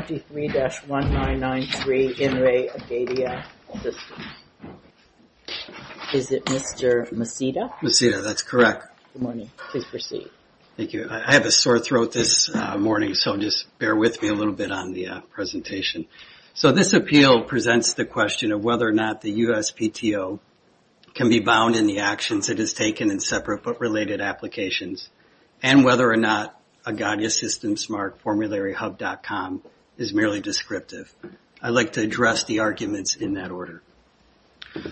23-1993, In Re. Agadia Systems. Is it Mr. Maceda? Maceda, that's correct. Good morning. Please proceed. Thank you. I have a sore throat this morning, so just bear with me a little bit on the presentation. So this appeal presents the question of whether or not the USPTO can be bound in the actions it has taken in separate but related applications, and whether or not agadiasystemsmartformularyhub.com is merely descriptive. I'd like to address the arguments in that order.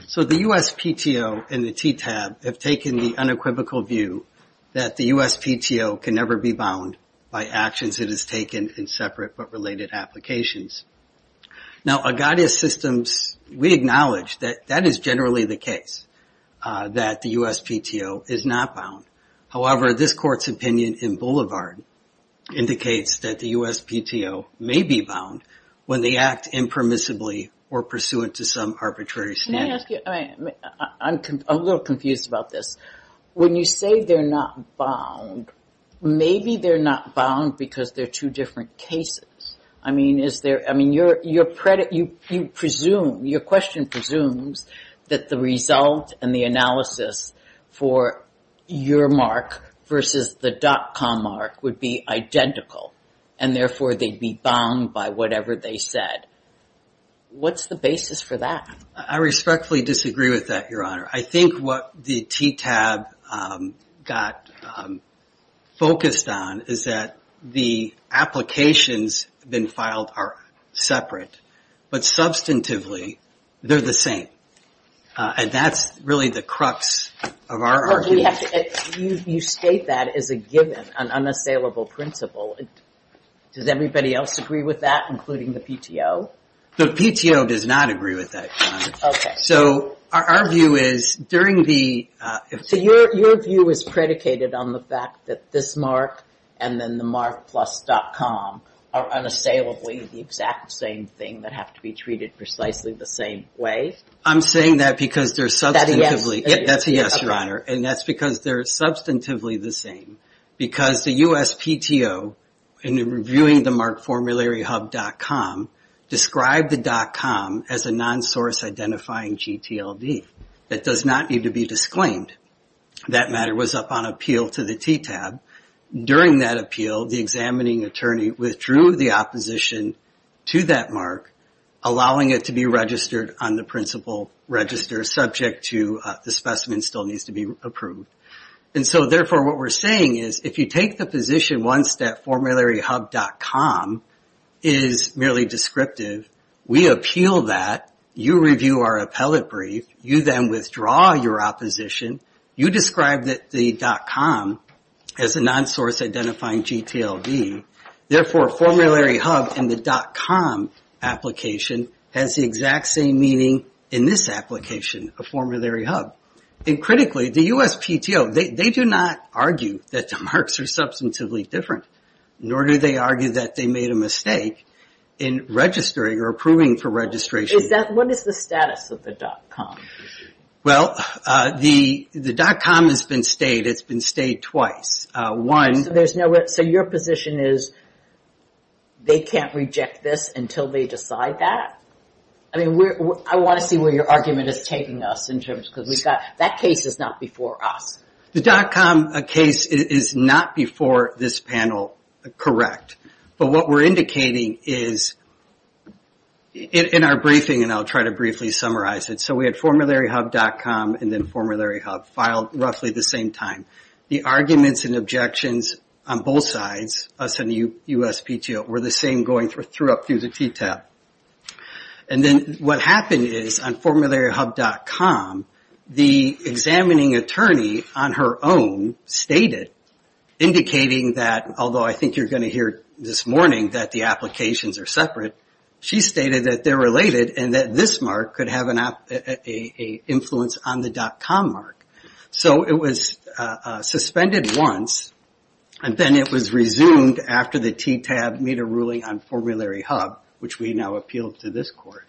So the USPTO and the TTAB have taken the unequivocal view that the USPTO can never be bound by actions it has taken in separate but related applications. Now, Agadia Systems, we acknowledge that that is generally the case, that the USPTO is not bound. However, this court's opinion in Boulevard indicates that the USPTO may be bound when they act impermissibly or pursuant to some arbitrary standard. I'm a little confused about this. When you say they're not bound, maybe they're not bound because they're two different cases. I mean, your question presumes that the result and the analysis for your mark versus the dot-com mark would be identical, and therefore they'd be bound by whatever they said. What's the basis for that? I respectfully disagree with that, Your Honor. I think what the TTAB got focused on is that the applications been filed are separate, but substantively, they're the same. And that's really the crux of our argument. You state that as a given, an unassailable principle. Does everybody else agree with that, including the PTO? The PTO does not agree with that, Your Honor. So our view is, during the... So your view is predicated on the fact that this mark and then the mark plus dot-com are unassailably the exact same thing that have to be treated precisely the same way? I'm saying that because they're substantively... That's a yes, Your Honor. And that's because they're substantively the same. Because the USPTO, in reviewing the mark formulary hub dot-com, described the dot-com as a non-source identifying GTLD. That does not need to be disclaimed. That matter was up on appeal to the TTAB. During that appeal, the examining attorney withdrew the opposition to that mark, allowing it to be registered on the principal register subject to the specimen still needs to be approved. And so, therefore, what we're saying is, if you take the position once that formulary hub dot-com is merely descriptive, we appeal that, you review our appellate brief, you then withdraw your opposition, you describe the dot-com as a non-source identifying GTLD. Therefore, formulary hub and the dot-com application has the exact same meaning in this application, a formulary hub. And critically, the USPTO, they do not argue that the marks are substantively different. Nor do they argue that they made a mistake in registering or approving for registration. What is the status of the dot-com? Well, the dot-com has been stayed. It's been stayed twice. So your position is they can't reject this until they decide that? I want to see where your argument is taking us, because that case is not before us. The dot-com case is not before this panel, correct. But what we're indicating is, in our briefing, and I'll try to briefly summarize it, so we had formulary hub dot-com and then formulary hub filed roughly the same time. The arguments and objections on both sides, us and the USPTO, were the same going through up through the T tab. And then what happened is, on formulary hub dot-com, the examining attorney on her own stated, indicating that, although I think you're going to hear this morning that the applications are separate, she stated that they're related and that this mark could have an influence on the dot-com mark. So it was suspended once, and then it was resumed after the T tab made a ruling on formulary hub, which we now appealed to this court.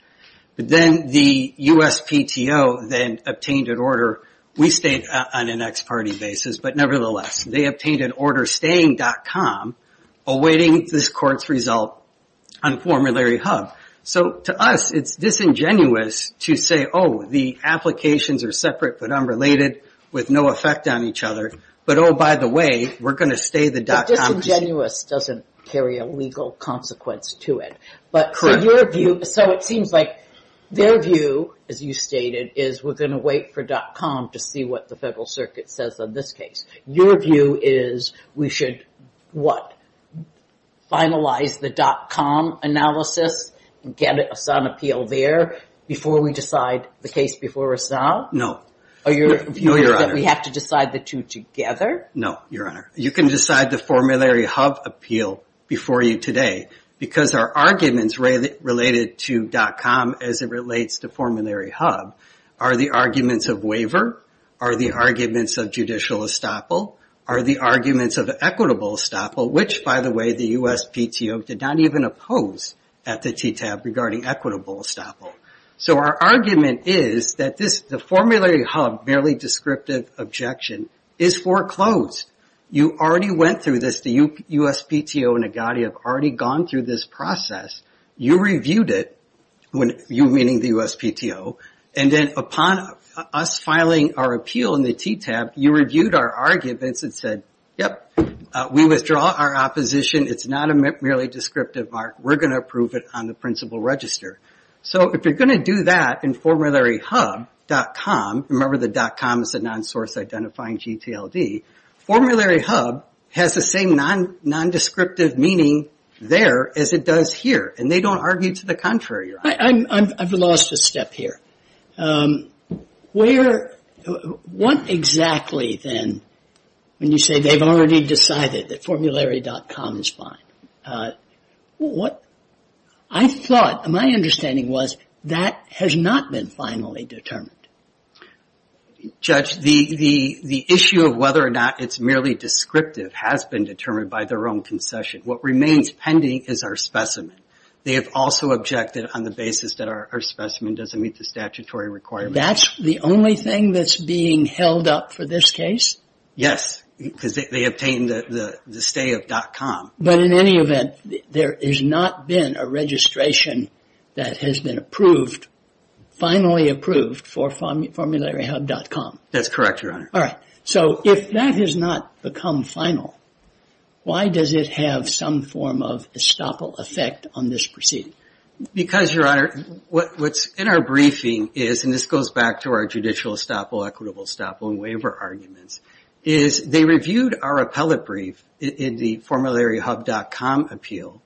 But then the USPTO then obtained an order. We stayed on an ex parte basis, but nevertheless, they obtained an order staying dot-com, awaiting this court's result on formulary hub. So to us, it's disingenuous to say, oh, the applications are separate but unrelated, with no effect on each other, but oh, by the way, we're going to stay the dot-com. But disingenuous doesn't carry a legal consequence to it. Correct. So it seems like their view, as you stated, is we're going to wait for dot-com to see what the Federal Circuit says on this case. Your view is we should, what, finalize the dot-com analysis and get a SON appeal there before we decide the case before a SON? No. Or your view is that we have to decide the two together? No, Your Honor. You can decide the formulary hub appeal before you today, because our arguments related to dot-com as it relates to formulary hub are the arguments of waiver, are the arguments of judicial estoppel, are the arguments of equitable estoppel, which, by the way, the USPTO did not even oppose at the TTAB regarding equitable estoppel. So our argument is that the formulary hub, merely descriptive objection, is foreclosed. You already went through this. The USPTO and EGADI have already gone through this process. You reviewed it, you meaning the USPTO, and then upon us filing our appeal in the TTAB, you reviewed our arguments and said, yep, we withdraw our opposition. It's not a merely descriptive mark. We're going to approve it on the principal register. So if you're going to do that in formularyhub.com, remember the dot-com is the non-source identifying GTLD, formulary hub has the same nondescriptive meaning there as it does here, and they don't argue to the contrary. I've lost a step here. Where, what exactly then, when you say they've already decided that formulary.com is fine, what I thought, my understanding was that has not been finally determined. Judge, the issue of whether or not it's merely descriptive has been determined by their own concession. What remains pending is our specimen. They have also objected on the basis that our specimen doesn't meet the statutory requirements. That's the only thing that's being held up for this case? Yes, because they obtained the stay of dot-com. But in any event, there has not been a registration that has been approved, finally approved for formularyhub.com. That's correct, Your Honor. All right. So if that has not become final, why does it have some form of estoppel effect on this proceeding? Because, Your Honor, what's in our briefing is, and this goes back to our judicial estoppel, equitable estoppel, and waiver arguments, is they reviewed our appellate brief in the formularyhub.com appeal,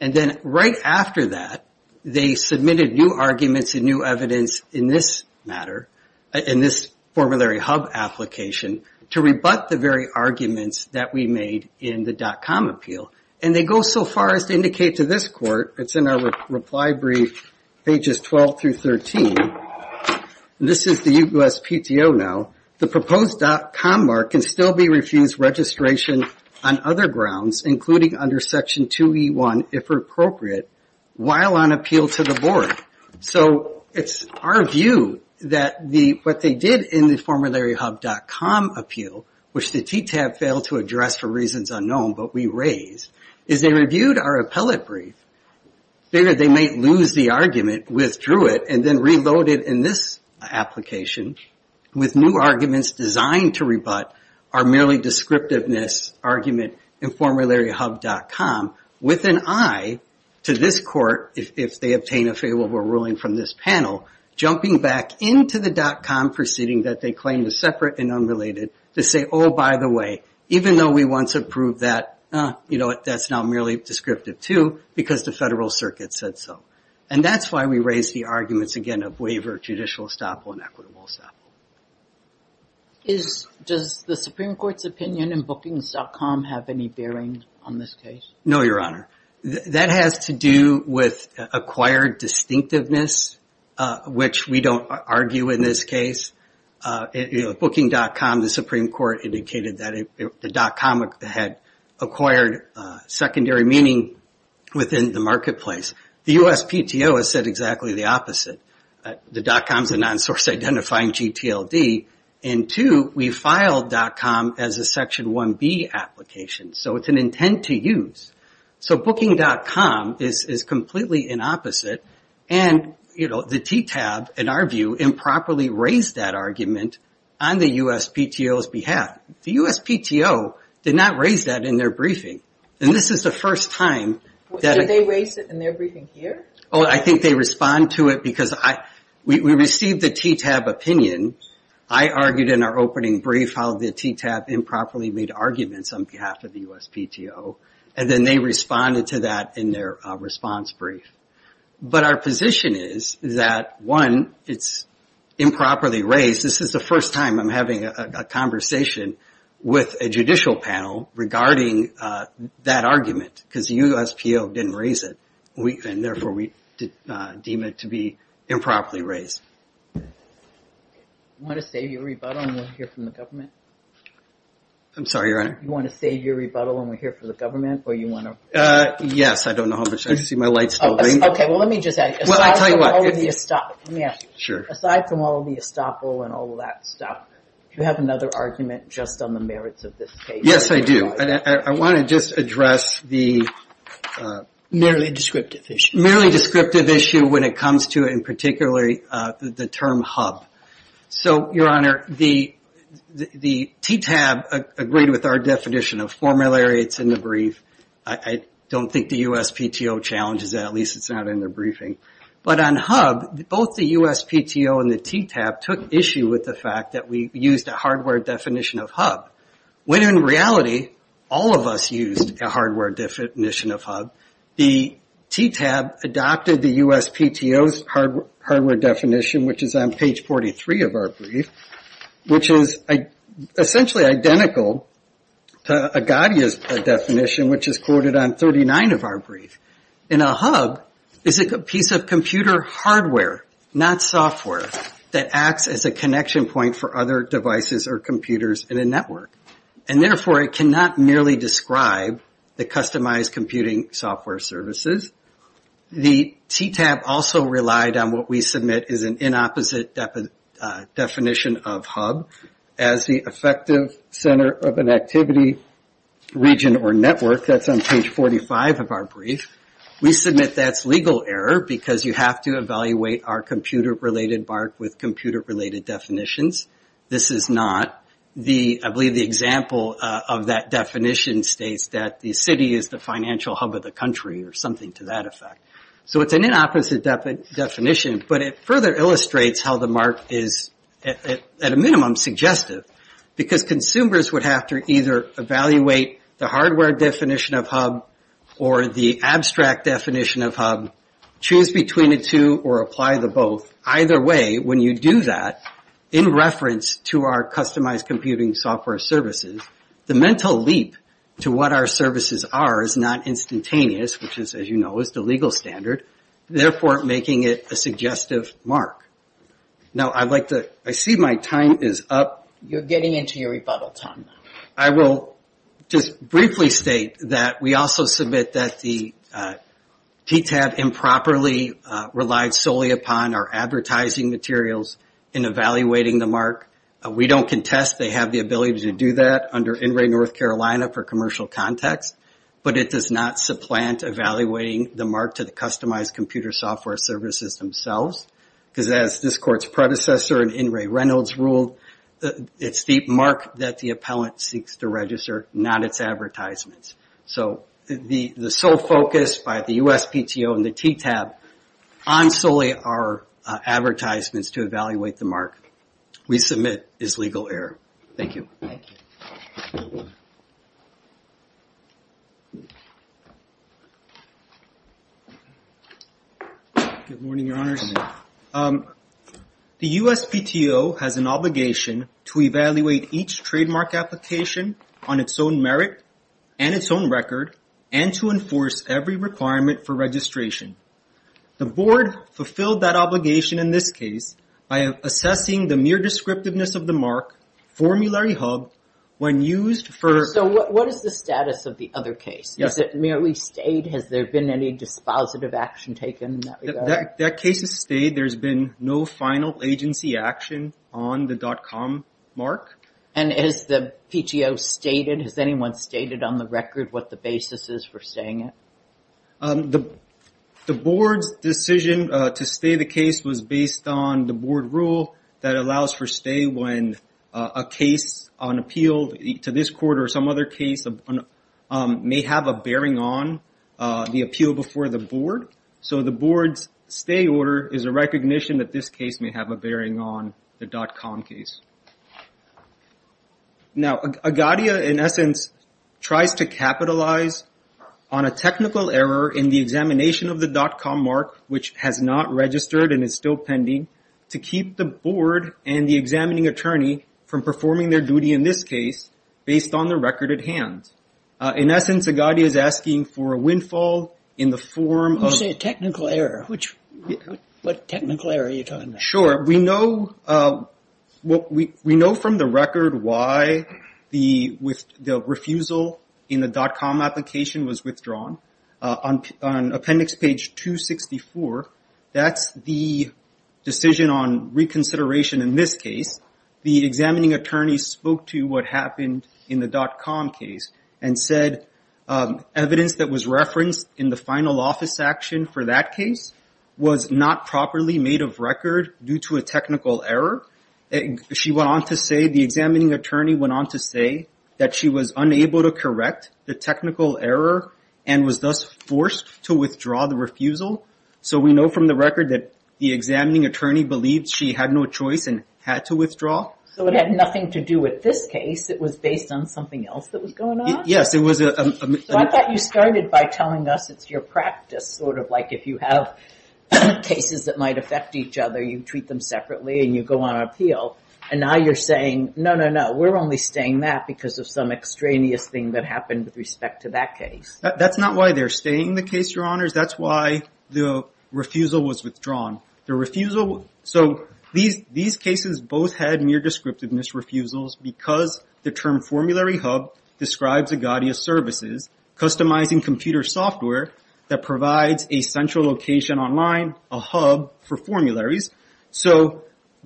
and then right after that, they submitted new arguments and new evidence in this matter, in this formularyhub application, to rebut the very arguments that we made in the dot-com appeal. And they go so far as to indicate to this court, it's in our reply brief, pages 12 through 13, and this is the USPTO now, the proposed dot-com mark can still be refused registration on other grounds, including under section 2E1, if appropriate, while on appeal to the board. So it's our view that what they did in the formularyhub.com appeal, which the TTAB failed to address for reasons unknown, but we raise, is they reviewed our appellate brief, figured they might lose the argument, withdrew it, and then reloaded in this application with new arguments designed to rebut our merely descriptiveness argument in formularyhub.com, with an eye to this court, if they obtain a favorable ruling from this panel, jumping back into the dot-com proceeding that they claimed was separate and unrelated, to say, oh, by the way, even though we once approved that, that's now merely descriptive too, because the federal circuit said so. And that's why we raised the arguments, again, of waiver, judicial estoppel, and equitable estoppel. Does the Supreme Court's opinion in bookings.com have any bearing on this case? No, Your Honor. That has to do with acquired distinctiveness, which we don't argue in this case. Booking.com, the Supreme Court indicated that the dot-com had acquired secondary meaning within the marketplace. The USPTO has said exactly the opposite. The dot-com is a non-source identifying GTLD. And two, we filed dot-com as a Section 1B application. So it's an intent to use. So booking.com is completely inopposite. And the TTAB, in our view, improperly raised that argument on the USPTO's behalf. The USPTO did not raise that in their briefing. And this is the first time that they raised it in their briefing here. Oh, I think they respond to it because we received the TTAB opinion. I argued in our opening brief how the TTAB improperly made arguments on behalf of the USPTO. And then they responded to that in their response brief. But our position is that, one, it's improperly raised. This is the first time I'm having a conversation with a judicial panel regarding that argument. Because the USPTO didn't raise it. And therefore, we deem it to be improperly raised. You want to save your rebuttal and we'll hear from the government? I'm sorry, Your Honor? You want to save your rebuttal and we'll hear from the government? Or you want to... Yes, I don't know how much time. I see my light's still green. Okay, well let me just ask you. Well, I'll tell you what. Aside from all of the estoppel and all of that stuff, do you have another argument just on the merits of this case? Yes, I do. I want to just address the... Merely descriptive issue. Merely descriptive issue when it comes to, in particular, the term hub. So, Your Honor, the TTAB agreed with our definition of formulary. It's in the brief. I don't think the USPTO challenges that. At least it's not in their briefing. But on hub, both the USPTO and the TTAB took issue with the fact that we used a hardware definition of hub. When in reality, all of us used a hardware definition of hub. The TTAB adopted the USPTO's hardware definition, which is on page 43 of our brief, which is essentially identical to Agadia's definition, which is quoted on 39 of our brief. And a hub is a piece of computer hardware, not software, that acts as a connection point for other devices or computers in a network. And, therefore, it cannot merely describe the customized computing software services. The TTAB also relied on what we submit is an inopposite definition of hub as the effective center of an activity region or network. That's on page 45 of our brief. We submit that's legal error because you have to evaluate our computer-related mark with computer-related definitions. This is not. I believe the example of that definition states that the city is the financial hub of the country or something to that effect. So it's an inopposite definition, but it further illustrates how the mark is, at a minimum, suggestive. Because consumers would have to either evaluate the hardware definition of hub or the abstract definition of hub, choose between the two or apply the both. Either way, when you do that, in reference to our customized computing software services, the mental leap to what our services are is not instantaneous, which, as you know, is the legal standard, therefore making it a suggestive mark. Now, I see my time is up. You're getting into your rebuttal time now. I will just briefly state that we also submit that the TTAB improperly relies solely upon our advertising materials in evaluating the mark. We don't contest they have the ability to do that under NRA North Carolina for commercial context, but it does not supplant evaluating the mark to the customized computer software services themselves. Because as this court's predecessor in In Ray Reynolds ruled, it's the mark that the appellant seeks to register, not its advertisements. So the sole focus by the USPTO and the TTAB on solely our advertisements to evaluate the mark we submit is legal error. Thank you. Thank you. Good morning, Your Honors. The USPTO has an obligation to evaluate each trademark application on its own merit and its own record and to enforce every requirement for registration. The board fulfilled that obligation in this case by assessing the mere descriptiveness of the mark formulary hub when used for... So what is the status of the other case? Is it merely stayed? Has there been any dispositive action taken in that regard? That case has stayed. There's been no final agency action on the dot-com mark. And has the PTO stated, has anyone stated on the record what the basis is for staying it? The board's decision to stay the case was based on the board rule that allows for stay when a case on appeal to this court or some other case may have a bearing on the appeal before the board. So the board's stay order is a recognition that this case may have a bearing on the dot-com case. Now, Agadia, in essence, tries to capitalize on a technical error in the examination of the dot-com mark, which has not registered and is still pending, to keep the board and the examining attorney from performing their duty in this case based on the record at hand. In essence, Agadia is asking for a windfall in the form of... You say a technical error. What technical error are you talking about? Sure. We know from the record why the refusal in the dot-com application was withdrawn. On appendix page 264, that's the decision on reconsideration in this case. The examining attorney spoke to what happened in the dot-com case and said evidence that was referenced in the final office action for that case was not properly made of record due to a technical error. She went on to say, the examining attorney went on to say that she was unable to correct the technical error and was thus forced to withdraw the refusal. So we know from the record that the examining attorney believed she had no choice and had to withdraw. So it had nothing to do with this case. It was based on something else that was going on? Yes, it was a... So I thought you started by telling us it's your practice. Sort of like if you have cases that might affect each other, you treat them separately and you go on appeal. And now you're saying, no, no, no, we're only staying that because of some extraneous thing that happened with respect to that case. That's not why they're staying the case, Your Honors. That's why the refusal was withdrawn. The refusal... So these cases both had mere descriptiveness refusals because the term formulary hub describes Agadia services, customizing computer software that provides a central location online, a hub for formularies. So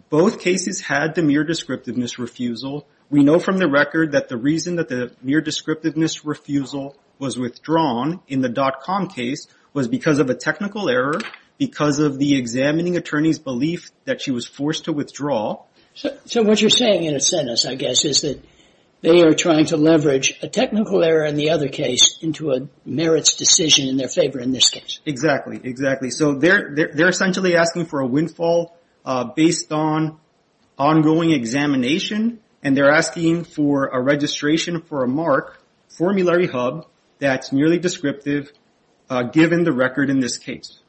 both cases had the mere descriptiveness refusal. We know from the record that the reason that the mere descriptiveness refusal was withdrawn in the .com case was because of a technical error, because of the examining attorney's belief that she was forced to withdraw. So what you're saying in a sentence, I guess, is that they are trying to leverage a technical error in the other case into a merits decision in their favor in this case. Exactly, exactly. So they're essentially asking for a windfall based on ongoing examination, and they're asking for a registration for a mark, formulary hub, that's merely descriptive given the record in this case.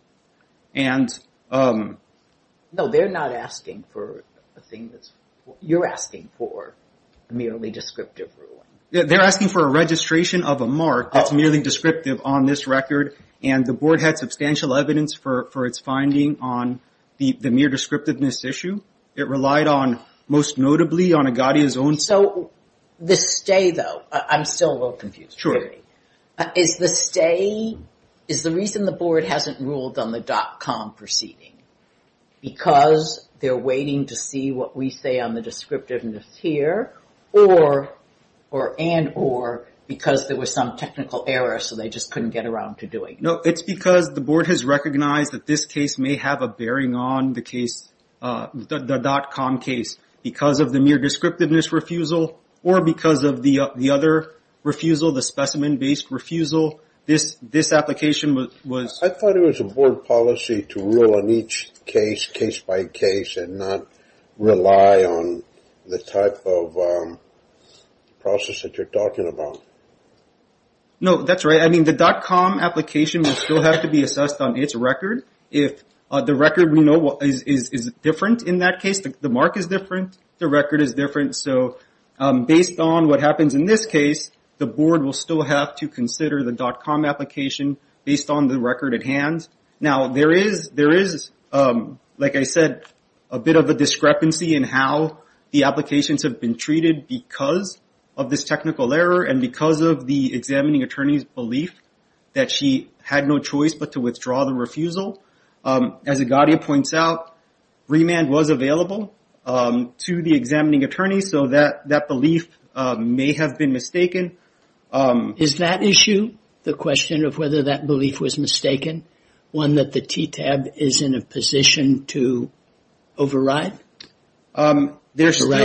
And... No, they're not asking for a thing that's... You're asking for a merely descriptive ruling. They're asking for a registration of a mark that's merely descriptive on this record, and the board had substantial evidence for its finding on the mere descriptiveness issue. It relied on, most notably, on Agadia's own... So the stay, though, I'm still a little confused. Is the stay... Is the reason the board hasn't ruled on the .com proceeding because they're waiting to see what we say on the descriptiveness here, or, and, or, because there was some technical error so they just couldn't get around to doing it? No, it's because the board has recognized that this case may have a bearing on the case, the .com case, because of the mere descriptiveness refusal, or because of the other refusal, the specimen-based refusal. This application was... I thought it was a board policy to rule on each case, case by case, and not rely on the type of process that you're talking about. No, that's right. I mean, the .com application will still have to be assessed on its record. If the record we know is different in that case, the mark is different, the record is different. So based on what happens in this case, the board will still have to consider the .com application based on the record at hand. Now, there is, like I said, a bit of a discrepancy in how the applications have been treated because of this technical error and because of the examining attorney's belief that she had no choice but to withdraw the refusal. As Agadia points out, remand was available to the examining attorney, so that belief may have been mistaken. Is that issue, the question of whether that belief was mistaken, one that the TTAB is in a position to override? Override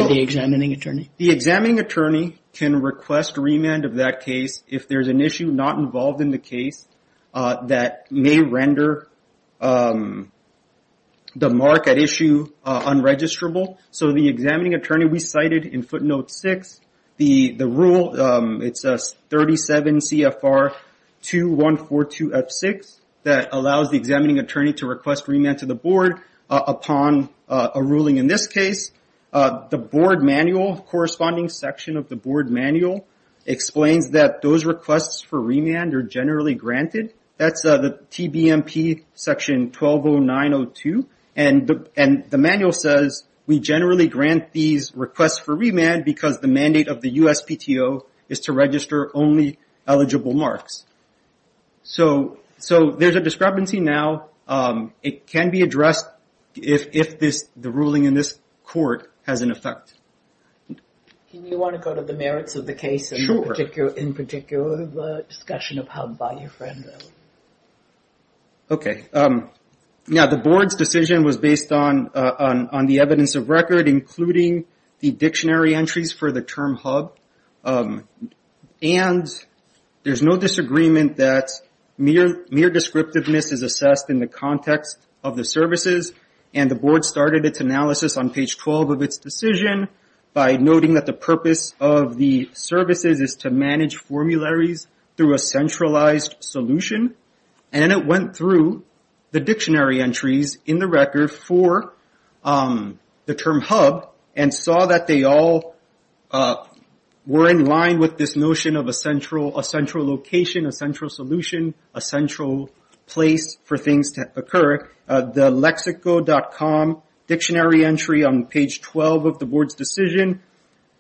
the examining attorney? The examining attorney can request remand of that case if there's an issue not involved in the case that may render the mark at issue unregisterable. So the examining attorney we cited in footnote 6, the rule, it's 37 CFR 2142F6, that allows the examining attorney to request remand to the board upon a ruling in this case. The board manual, corresponding section of the board manual, explains that those requests for remand are generally granted. That's the TBMP section 120902. And the manual says we generally grant these requests for remand because the mandate of the USPTO is to register only eligible marks. So there's a discrepancy now. It can be addressed if the ruling in this court has an effect. Can you want to go to the merits of the case in particular, the discussion of HUB by your friend? Okay. Now the board's decision was based on the evidence of record, including the dictionary entries for the term HUB. And there's no disagreement that mere descriptiveness is assessed in the context of the services. And the board started its analysis on page 12 of its decision by noting that the purpose of the services is to manage formularies through a centralized solution. And it went through the dictionary entries in the record for the term HUB and saw that they all were in line with this notion of a central location, a central solution, a central place for things to occur. The Lexico.com dictionary entry on page 12 of the board's decision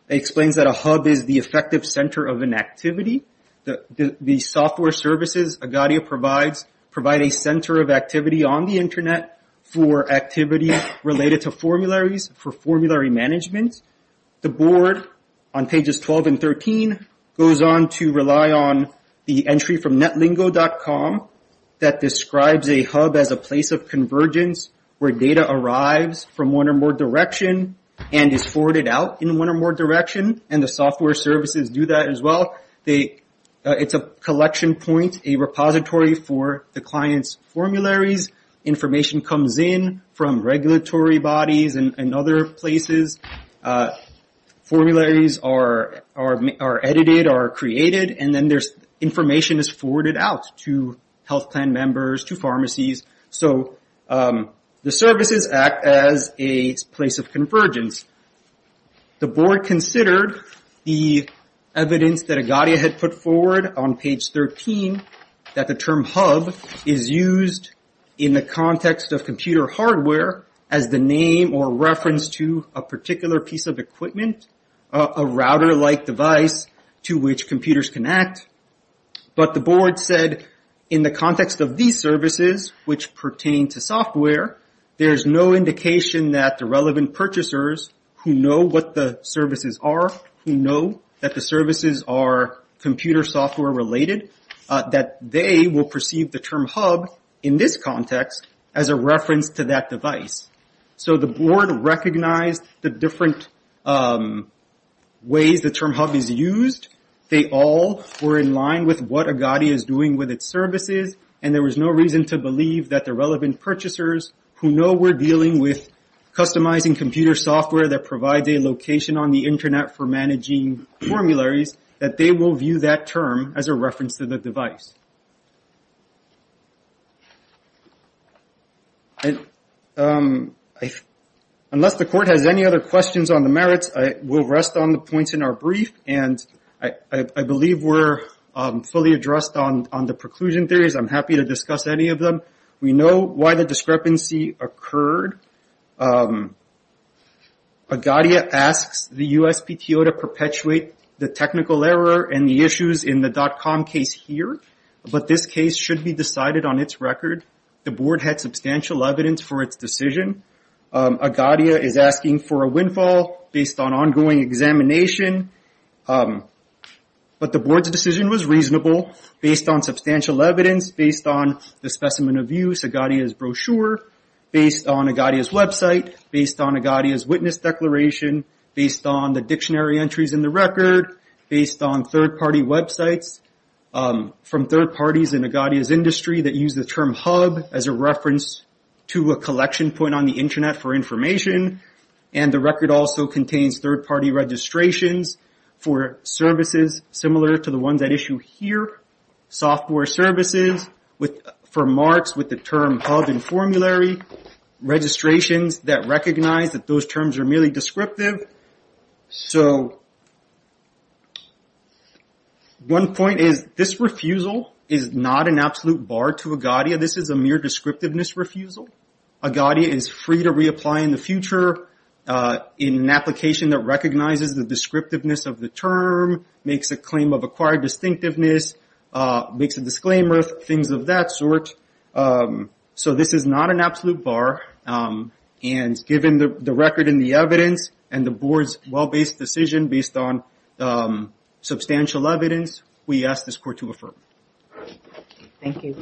explains that a HUB is the effective center of an activity. The software services Agadia provides provide a center of activity on the Internet for activities related to formularies for formulary management. The board on pages 12 and 13 goes on to rely on the entry from NetLingo.com that describes a HUB as a place of convergence where data arrives from one or more direction and is forwarded out in one or more direction. And the software services do that as well. It's a collection point, a repository for the client's formularies, information comes in from regulatory bodies and other places, formularies are edited, are created, and then information is forwarded out to health plan members, to pharmacies. So the services act as a place of convergence. The board considered the evidence that Agadia had put forward on page 13 that the term HUB is used in the context of computer hardware as the name or reference to a particular piece of equipment, a router-like device to which computers can act. But the board said in the context of these services, which pertain to software, there's no indication that the relevant purchasers who know what the services are, who know that the services are computer software related, that they will perceive the term HUB in this context as a reference to that device. So the board recognized the different ways the term HUB is used. They all were in line with what Agadia is doing with its services, and there was no reason to believe that the relevant purchasers who know we're dealing with customizing computer software that provides a location on the Internet for managing formularies, that they will view that term as a reference to the device. Unless the court has any other questions on the merits, we'll rest on the points in our brief, and I believe we're fully addressed on the preclusion theories. I'm happy to discuss any of them. We know why the discrepancy occurred. Agadia asks the USPTO to perpetuate the technical error and the issues in the dot-com case here, but this case should be decided on its record. The board had substantial evidence for its decision. Agadia is asking for a windfall based on ongoing examination, but the board's decision was reasonable based on substantial evidence, based on the specimen of use, Agadia's brochure, based on Agadia's website, based on Agadia's witness declaration, based on the dictionary entries in the record, based on third-party websites from third parties in Agadia's industry that use the term HUB as a reference to a collection point on the Internet for information, and the record also contains third-party registrations for services similar to the ones at issue here, software services for marks with the term HUB and formulary, registrations that recognize that those terms are merely descriptive. One point is this refusal is not an absolute bar to Agadia. This is a mere descriptiveness refusal. Agadia is free to reapply in the future in an application that recognizes the descriptiveness of the term, makes a claim of acquired distinctiveness, makes a disclaimer, things of that sort. So this is not an absolute bar, and given the record and the evidence and the board's well-based decision based on substantial evidence, we ask this court to affirm. Thank you.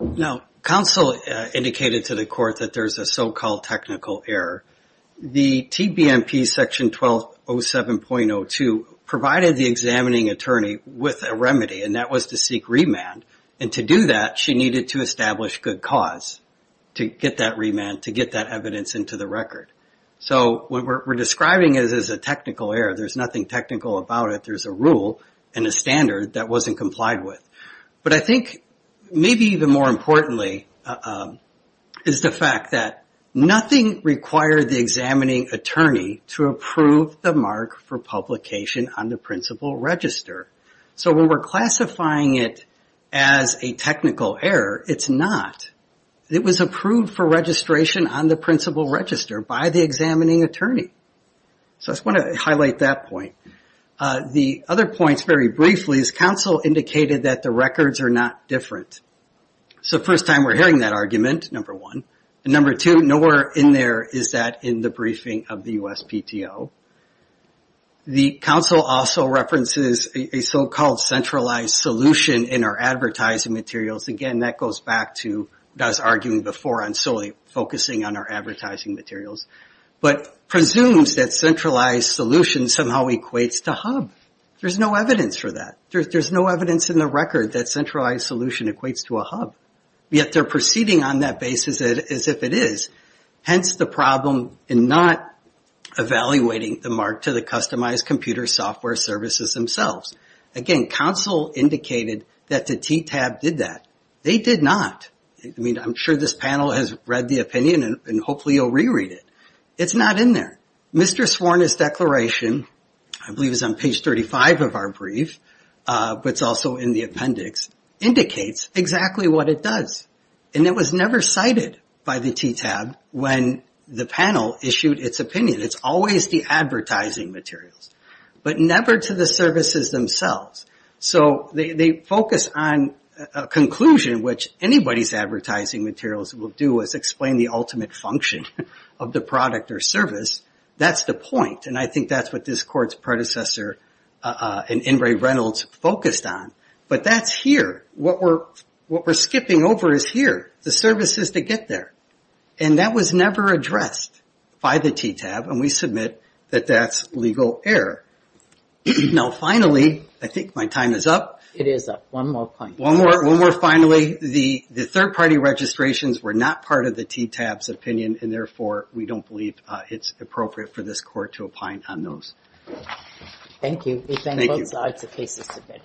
Now, counsel indicated to the court that there's a so-called technical error. The TBMP section 1207.02 provided the examining attorney with a remedy, and that was to seek remand, and to do that, she needed to establish good cause to get that remand, to get that evidence into the record. So we're describing it as a technical error. There's nothing technical about it. There's a rule and a standard that wasn't complied with. But I think maybe even more importantly is the fact that nothing required the examining attorney to approve the mark for publication on the principal register. So when we're classifying it as a technical error, it's not. It was approved for registration on the principal register by the examining attorney. So I just want to highlight that point. The other point, very briefly, is counsel indicated that the records are not different. So first time we're hearing that argument, number one. And number two, nowhere in there is that in the briefing of the USPTO. The counsel also references a so-called centralized solution in our advertising materials. Again, that goes back to us arguing before on solely focusing on our advertising materials. But presumes that centralized solution somehow equates to hub. There's no evidence for that. There's no evidence in the record that centralized solution equates to a hub. Yet they're proceeding on that basis as if it is. Hence the problem in not evaluating the mark to the customized computer software services themselves. Again, counsel indicated that the TTAB did that. They did not. I mean, I'm sure this panel has read the opinion and hopefully you'll reread it. It's not in there. Mr. Sworn's declaration, I believe it's on page 35 of our brief, but it's also in the appendix, indicates exactly what it does. And it was never cited by the TTAB when the panel issued its opinion. It's always the advertising materials, but never to the services themselves. So they focus on a conclusion, which anybody's advertising materials will do, is explain the ultimate function of the product or service. That's the point. And I think that's what this court's predecessor and Ingray Reynolds focused on. But that's here. What we're skipping over is here. The services to get there. And that was never addressed by the TTAB. And we submit that that's legal error. Now finally, I think my time is up. One more finally. The third party registrations were not part of the TTAB's opinion, and therefore we don't believe it's appropriate for this court to opine on those. Thank you. Thank you.